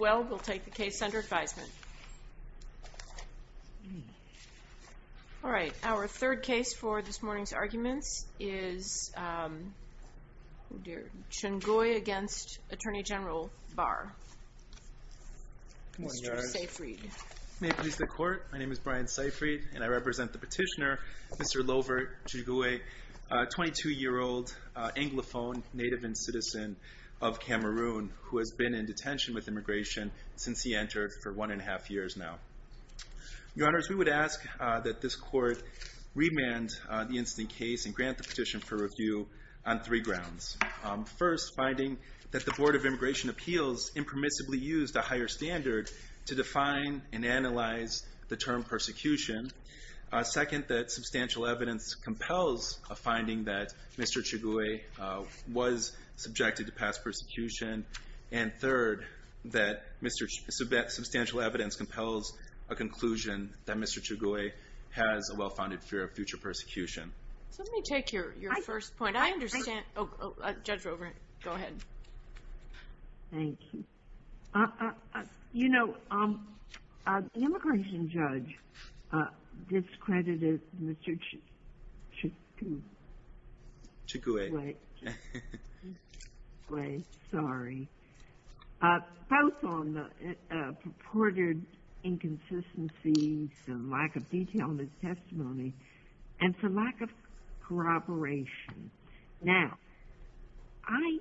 We'll take the case under advisement. All right. Our third case for this morning's arguments is Tchougoue against Attorney General Barr. Good morning, Your Honor. Mr. Seyfried. May it please the Court, my name is Brian Seyfried, and I represent the petitioner, Mr. Lovert Tchougoue, a 22-year-old Anglophone native and citizen of Cameroon who has been in detention with immigration since he entered for one and a half years now. Your Honors, we would ask that this Court remand the incident case and grant the petition for review on three grounds. First, finding that the Board of Immigration Appeals impermissibly used a higher standard to define and analyze the term persecution. Second, that substantial evidence compels a finding that Mr. Tchougoue was subjected to past persecution. And third, that substantial evidence compels a conclusion that Mr. Tchougoue has a well-founded fear of future persecution. So let me take your first point. I understand. Judge Rovert, go ahead. Thank you. You know, the immigration judge discredited Mr. Tchougoue. Tchougoue. Tchougoue. Tchougoue. Sorry. Both on the purported inconsistencies and lack of detail in his testimony and for lack of corroboration. Now, I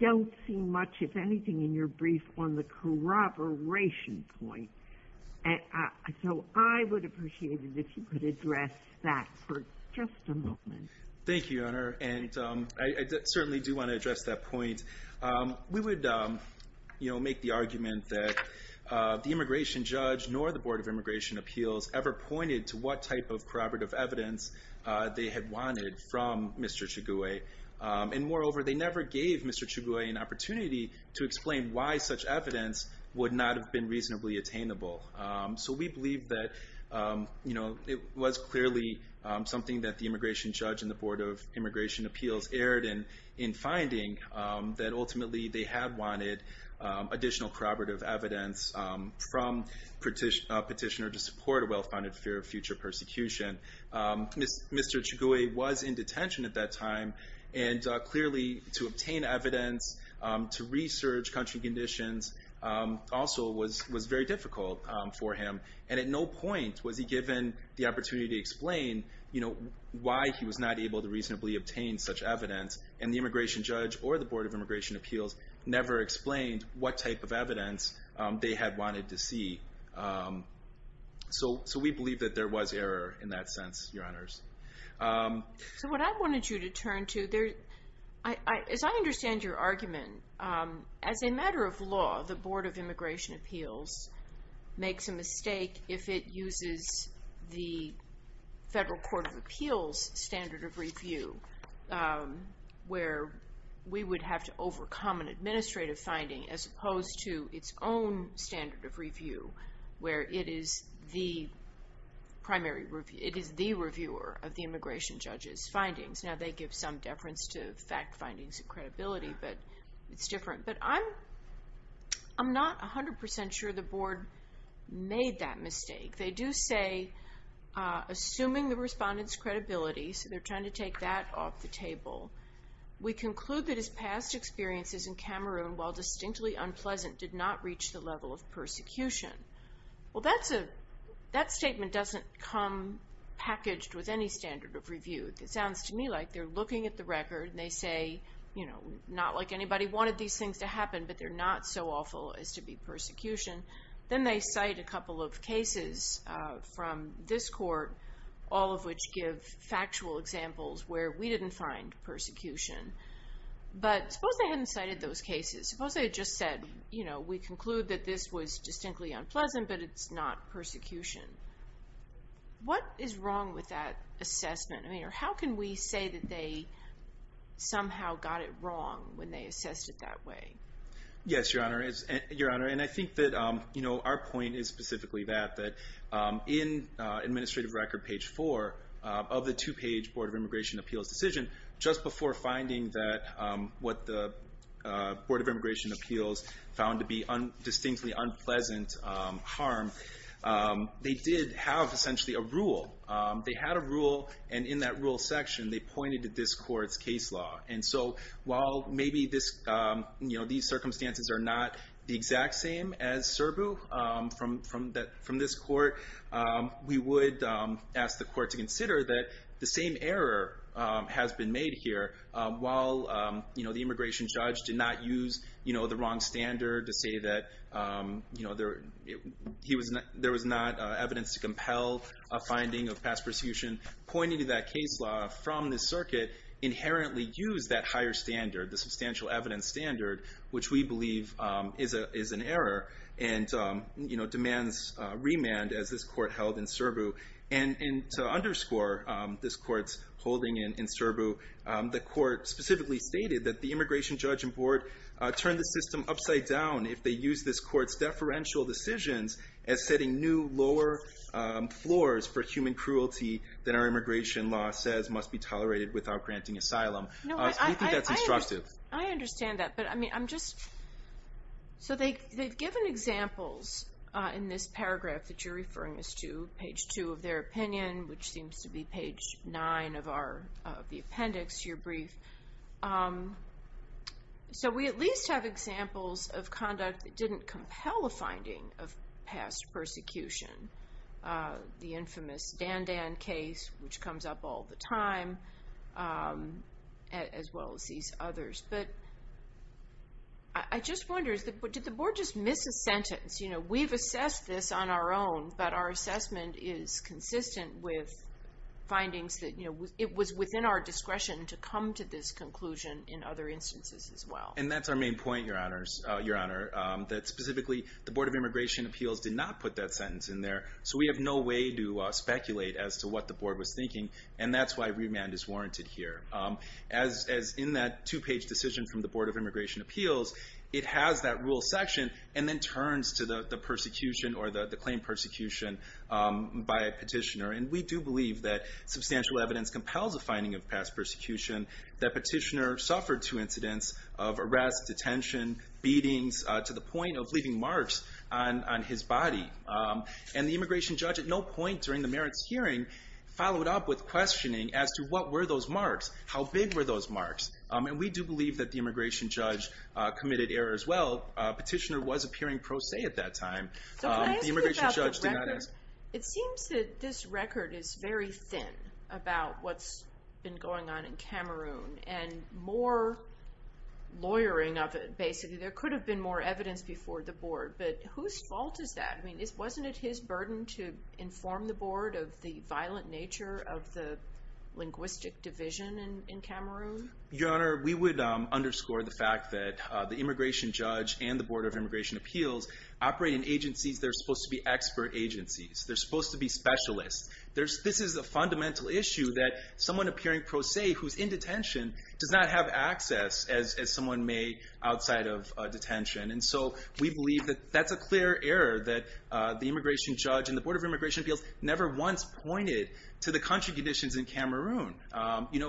don't see much, if anything, in your brief on the corroboration point. So I would appreciate it if you could address that for just a moment. Thank you, Your Honor. And I certainly do want to address that point. We would make the argument that the immigration judge nor the Board of Immigration Appeals ever pointed to what type of corroborative evidence they had wanted from Mr. Tchougoue. And moreover, they never gave Mr. Tchougoue an opportunity to explain why such evidence would not have been reasonably attainable. So we believe that, you know, it was clearly something that the immigration judge and the Board of Immigration Appeals erred in in finding that ultimately they had wanted additional corroborative evidence from a petitioner to support a well-founded fear of future persecution. Mr. Tchougoue was in detention at that time, and clearly to obtain evidence, to research country conditions also was very difficult for him. And at no point was he given the opportunity to explain, you know, why he was not able to reasonably obtain such evidence. And the immigration judge or the Board of Immigration Appeals never explained what type of evidence they had wanted to see. So we believe that there was error in that sense, Your Honors. So what I wanted you to turn to, as I understand your argument, as a matter of law, the Board of Immigration Appeals makes a mistake if it uses the Federal Court of Appeals standard of review where we would have to overcome an administrative finding as opposed to its own standard of review where it is the reviewer of the immigration judge's findings. Now, they give some deference to fact findings and credibility, but it's different. But I'm not 100% sure the Board made that mistake. They do say, assuming the respondent's credibility, so they're trying to take that off the table, we conclude that his past experiences in Cameroon, while distinctly unpleasant, did not reach the level of persecution. Well, that statement doesn't come packaged with any standard of review. It sounds to me like they're looking at the record and they say, you know, not like anybody wanted these things to happen, but they're not so awful as to be persecution. Then they cite a couple of cases from this court, all of which give factual examples where we didn't find persecution. But suppose they hadn't cited those cases. Suppose they had just said, you know, we conclude that this was distinctly unpleasant, but it's not persecution. What is wrong with that assessment? I mean, how can we say that they somehow got it wrong when they assessed it that way? Yes, Your Honor. And I think that, you know, our point is specifically that, that in administrative record page four of the two-page Board of Immigration Appeals decision, just before finding that what the Board of Immigration Appeals found to be distinctly unpleasant harm, they did have essentially a rule. They had a rule, and in that rule section, they pointed to this court's case law. And so while maybe this, you know, these circumstances are not the exact same as Serbu from this court, we would ask the court to consider that the same error has been made here. While, you know, the immigration judge did not use, you know, the wrong standard to say that, you know, there was not evidence to compel a finding of past persecution, pointing to that case law from the circuit inherently used that higher standard, the substantial evidence standard, which we believe is an error, and, you know, demands remand, as this court held in Serbu. And to underscore this court's holding in Serbu, the court specifically stated that the immigration judge and board turned the system upside down if they used this court's deferential decisions as setting new lower floors for human cruelty that our immigration law says must be tolerated without granting asylum. We think that's instructive. I understand that, but I mean, I'm just, so they've given examples in this paragraph that you're referring us to, page 2 of their opinion, which seems to be page 9 of our, of the appendix to your brief. So we at least have examples of conduct that didn't compel a finding of past persecution, the infamous Dandan case, which comes up all the time, as well as these others. But I just wonder, did the board just miss a sentence? You know, we've assessed this on our own, but our assessment is consistent with findings that, you know, it was within our discretion to come to this conclusion in other instances as well. And that's our main point, Your Honor, that specifically the Board of Immigration Appeals did not put that sentence in there, so we have no way to speculate as to what the board was thinking, and that's why remand is warranted here. As in that two-page decision from the Board of Immigration Appeals, it has that rule section and then turns to the persecution or the claim persecution by a petitioner. And we do believe that substantial evidence compels a finding of past persecution, that petitioner suffered two incidents of arrests, detention, beatings, to the point of leaving marks on his body. And the immigration judge at no point during the merits hearing followed up with questioning as to what were those marks, how big were those marks. And we do believe that the immigration judge committed error as well. Petitioner was appearing pro se at that time. So can I ask you about the record? It seems that this record is very thin about what's been going on in Cameroon, and more lawyering of it, basically. There could have been more evidence before the board, but whose fault is that? I mean, wasn't it his burden to inform the board of the violent nature of the linguistic division in Cameroon? Your Honor, we would underscore the fact that the immigration judge and the Board of Immigration Appeals operate in agencies that are supposed to be expert agencies. They're supposed to be specialists. This is a fundamental issue that someone appearing pro se, who's in detention, does not have access, as someone may, outside of detention. And so we believe that that's a clear error that the immigration judge and the Board of Immigration Appeals never once pointed to the country conditions in Cameroon,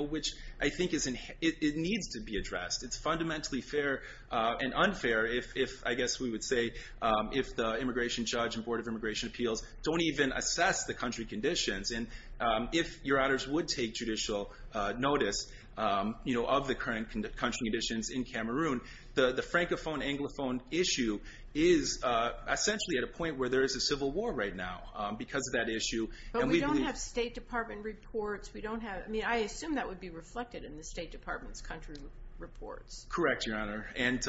which I think it needs to be addressed. It's fundamentally fair and unfair, I guess we would say, if the immigration judge and Board of Immigration Appeals don't even assess the country conditions. And if, Your Honors, would take judicial notice of the current country conditions in Cameroon, the Francophone-Anglophone issue is essentially at a point where there is a civil war right now because of that issue. But we don't have State Department reports. I mean, I assume that would be reflected in the State Department's country reports. Correct, Your Honor. And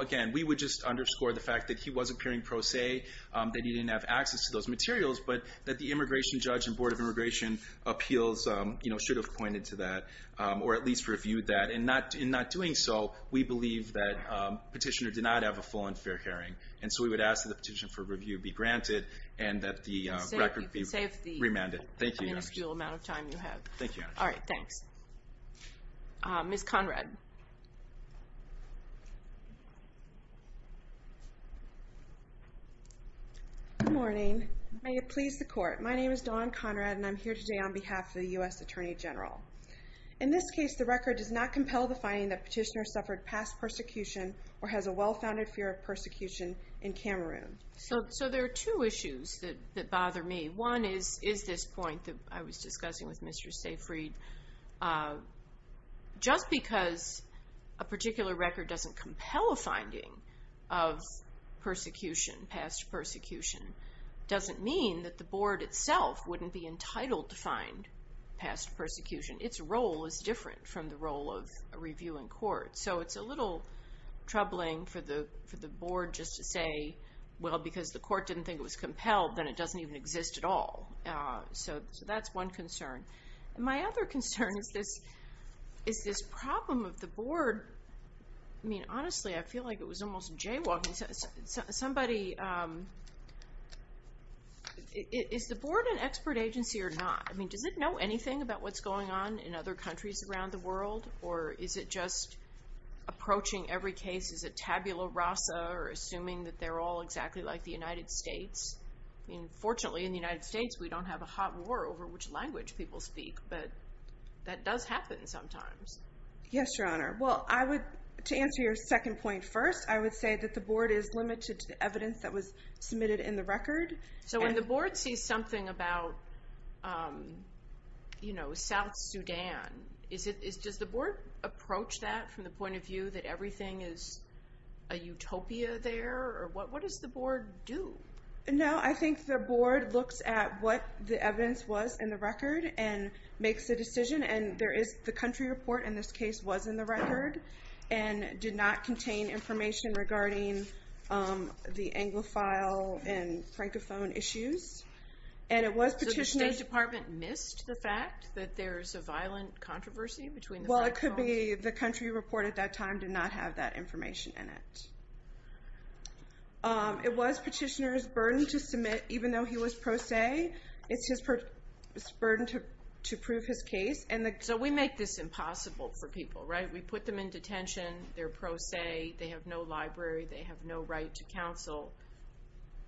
again, we would just underscore the fact that he wasn't appearing pro se, that he didn't have access to those materials, but that the immigration judge and Board of Immigration Appeals should have pointed to that, or at least reviewed that. In not doing so, we believe that petitioner did not have a full and fair hearing. And so we would ask that the petition for review be granted and that the record be remanded. Thank you, Your Honor. All right, thanks. Ms. Conrad. Good morning. May it please the Court. My name is Dawn Conrad, and I'm here today on behalf of the U.S. Attorney General. In this case, the record does not compel the finding that petitioner suffered past persecution or has a well-founded fear of persecution in Cameroon. So there are two issues that bother me. One is this point that I was discussing with Mr. Seyfried. Just because a particular record doesn't compel a finding of persecution, past persecution, doesn't mean that the Board itself wouldn't be entitled to find past persecution. Its role is different from the role of a review in court. So it's a little troubling for the Board just to say, well, because the Court didn't think it was compelled, then it doesn't even exist at all. So that's one concern. My other concern is this problem of the Board. I mean, honestly, I feel like it was almost jaywalking. Somebody, is the Board an expert agency or not? I mean, does it know anything about what's going on in other countries around the world? Or is it just approaching every case as a tabula rasa or assuming that they're all exactly like the United States? I mean, fortunately, in the United States, we don't have a hot war over which language people speak. But that does happen sometimes. Yes, Your Honor. Well, I would, to answer your second point first, I would say that the Board is limited to the evidence that was submitted in the record. So when the Board sees something about South Sudan, does the Board approach that from the point of view that everything is a utopia there? Or what does the Board do? No, I think the Board looks at what the evidence was in the record and makes a decision. And there is the country report in this case was in the record and did not contain information regarding the Anglophile and Francophone issues. So the State Department missed the fact that there's a violent controversy between the Francophones? Well, it could be the country report at that time did not have that information in it. It was Petitioner's burden to submit, even though he was pro se. It's his burden to prove his case. So we make this impossible for people, right? We put them in detention. They're pro se. They have no library. They have no right to counsel.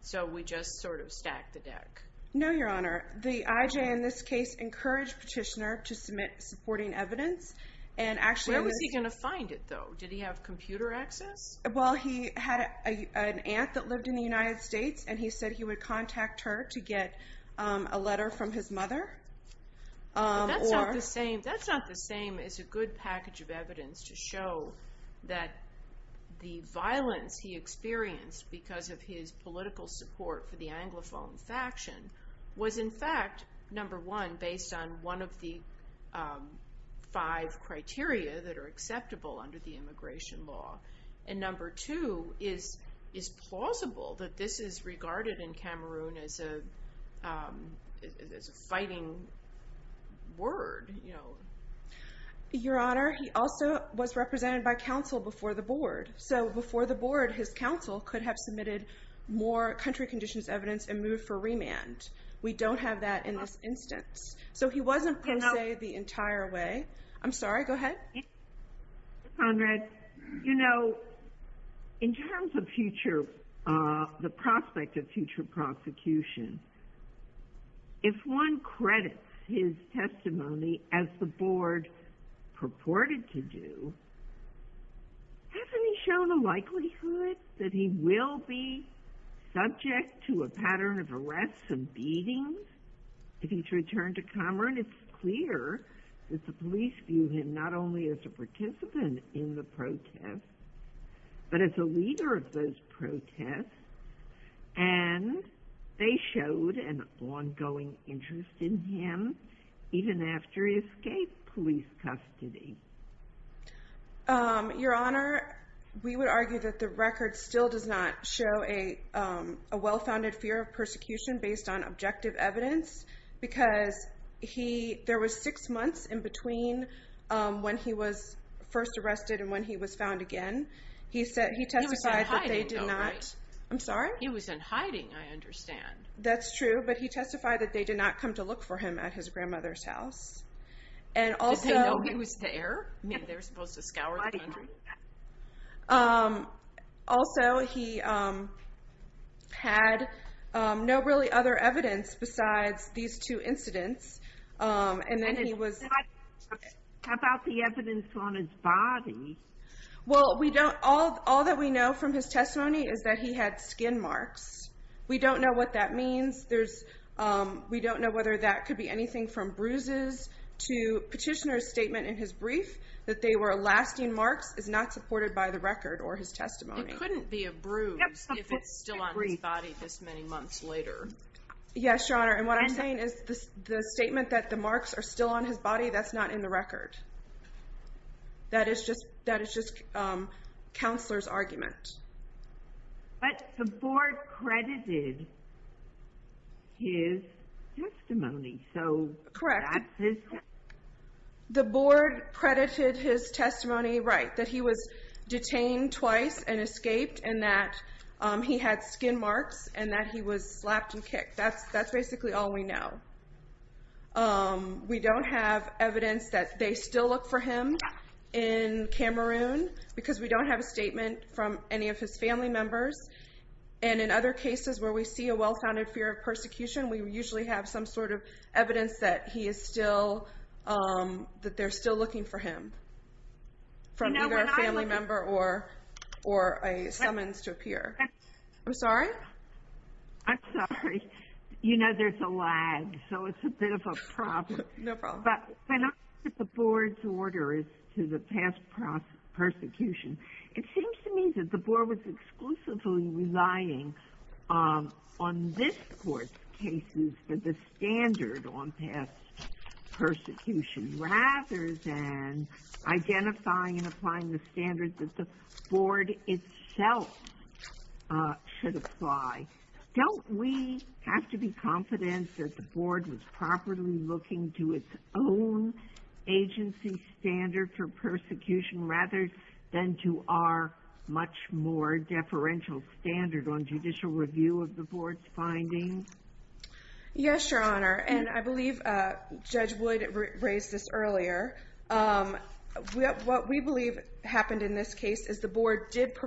So we just sort of stack the deck. No, Your Honor. The IJ in this case encouraged Petitioner to submit supporting evidence. Where was he going to find it, though? Did he have computer access? Well, he had an aunt that lived in the United States, and he said he would contact her to get a letter from his mother. That's not the same as a good package of evidence to show that the violence he experienced because of his political support for the Anglophone faction was, in fact, number one, based on one of the five criteria that are acceptable under the immigration law, and number two, is plausible that this is regarded in Cameroon as a fighting word. Your Honor, he also was represented by counsel before the board. So before the board, his counsel could have submitted more country conditions evidence and moved for remand. We don't have that in this instance. So he wasn't pro se the entire way. I'm sorry. Go ahead. Conrad, you know, in terms of the prospect of future prosecution, if one credits his testimony as the board purported to do, hasn't he shown a likelihood that he will be subject to a pattern of arrests and beatings if he's returned to Cameroon? It's clear that the police view him not only as a participant in the protest, but as a leader of those protests. And they showed an ongoing interest in him even after he escaped police custody. Your Honor, we would argue that the record still does not show a well-founded fear of persecution based on objective evidence. Because there was six months in between when he was first arrested and when he was found again. He testified that they did not. He was in hiding, though, right? I'm sorry? He was in hiding, I understand. That's true. But he testified that they did not come to look for him at his grandmother's house. Did they know he was there? Maybe they were supposed to scour the country? Also, he had no really other evidence besides these two incidents. And then he was- How about the evidence on his body? Well, all that we know from his testimony is that he had skin marks. We don't know what that means. We don't know whether that could be anything from bruises to petitioner's statement in his brief that they were lasting marks is not supported by the record or his testimony. It couldn't be a bruise if it's still on his body this many months later. Yes, Your Honor. And what I'm saying is the statement that the marks are still on his body, that's not in the record. That is just counselor's argument. But the board credited his testimony. Correct. The board credited his testimony, right, that he was detained twice and escaped and that he had skin marks and that he was slapped and kicked. That's basically all we know. We don't have evidence that they still look for him in Cameroon because we don't have a statement from any of his family members. And in other cases where we see a well-founded fear of persecution, we usually have some sort of evidence that they're still looking for him from either a family member or a summons to appear. I'm sorry? I'm sorry. You know there's a lag, so it's a bit of a problem. No problem. But when I look at the board's orders to the past prosecution, it seems to me that the board was exclusively relying on this court's cases for the standard on past persecution rather than identifying and applying the standards that the board itself should apply. Don't we have to be confident that the board was properly looking to its own agency standard for persecution rather than to our much more deferential standard on judicial review of the board's findings? Yes, Your Honor, and I believe Judge Wood raised this earlier. What we believe happened in this case is the board did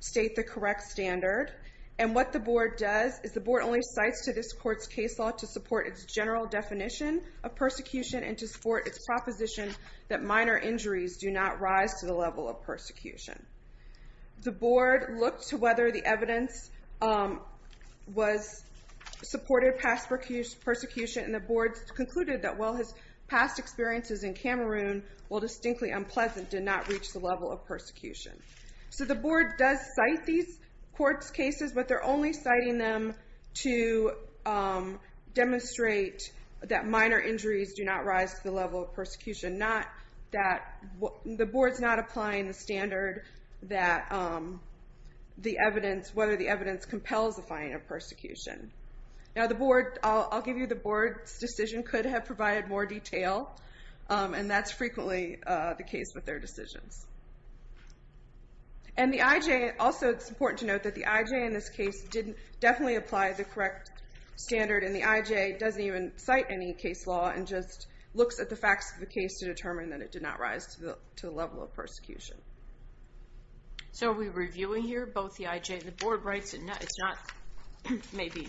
state the correct standard, and what the board does is the board only cites to this court's case law to support its general definition of persecution and to support its proposition that minor injuries do not rise to the level of persecution. The board looked to whether the evidence supported past persecution, and the board concluded that while his past experiences in Cameroon, while distinctly unpleasant, did not reach the level of persecution. So the board does cite these court's cases, but they're only citing them to demonstrate that minor injuries do not rise to the level of persecution, not that the board's not applying the standard that the evidence, whether the evidence compels the finding of persecution. Now the board, I'll give you the board's decision could have provided more detail, and that's frequently the case with their decisions. And the IJ, also it's important to note that the IJ in this case didn't definitely apply the correct standard, and the IJ doesn't even cite any case law and just looks at the facts of the case to determine that it did not rise to the level of persecution. So are we reviewing here both the IJ and the board rights? It's not maybe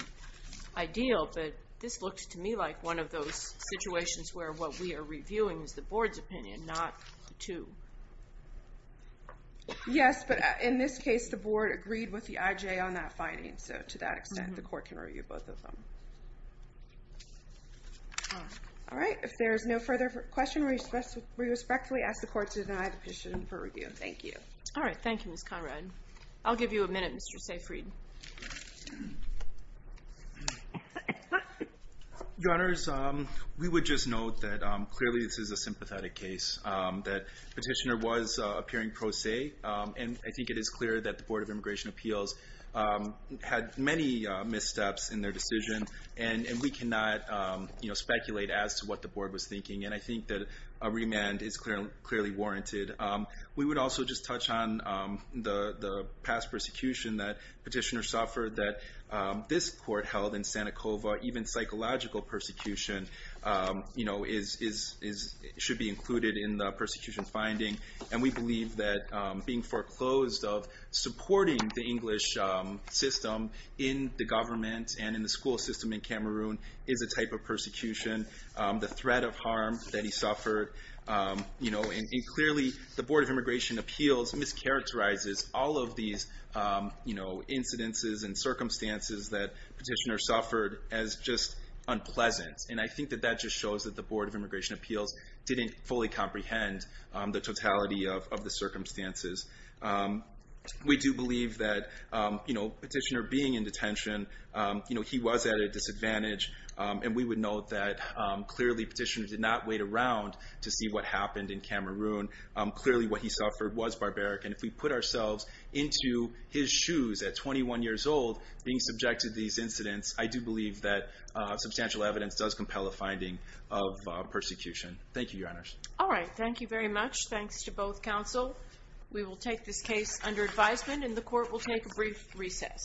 ideal, but this looks to me like one of those situations where what we are reviewing is the board's opinion, not the two. Yes, but in this case the board agreed with the IJ on that finding, so to that extent the court can review both of them. All right. If there is no further question, we respectfully ask the court to deny the petition for review. Thank you. All right. Thank you, Ms. Conrad. I'll give you a minute, Mr. Seyfried. Your Honors, we would just note that clearly this is a sympathetic case, that petitioner was appearing pro se, and I think it is clear that the Board of Immigration Appeals had many missteps in their decision, and we cannot speculate as to what the board was thinking, and I think that a remand is clearly warranted. We would also just touch on the past persecution that petitioner suffered that this court held in Santa Cova, even psychological persecution should be included in the persecution finding, and we believe that being foreclosed of supporting the English system in the government and in the school system in Cameroon is a type of persecution. The threat of harm that he suffered, and clearly the Board of Immigration Appeals mischaracterizes all of these incidences and circumstances that petitioner suffered as just unpleasant, and I think that that just shows that the Board of Immigration Appeals didn't fully comprehend the totality of the circumstances. We do believe that petitioner being in detention, he was at a disadvantage, and we would note that clearly petitioner did not wait around to see what happened in Cameroon. Clearly what he suffered was barbaric, and if we put ourselves into his shoes at 21 years old, being subjected to these incidents, I do believe that substantial evidence does compel a finding of persecution. Thank you, Your Honors. All right, thank you very much. Thanks to both counsel. We will take this case under advisement, and the court will take a brief recess.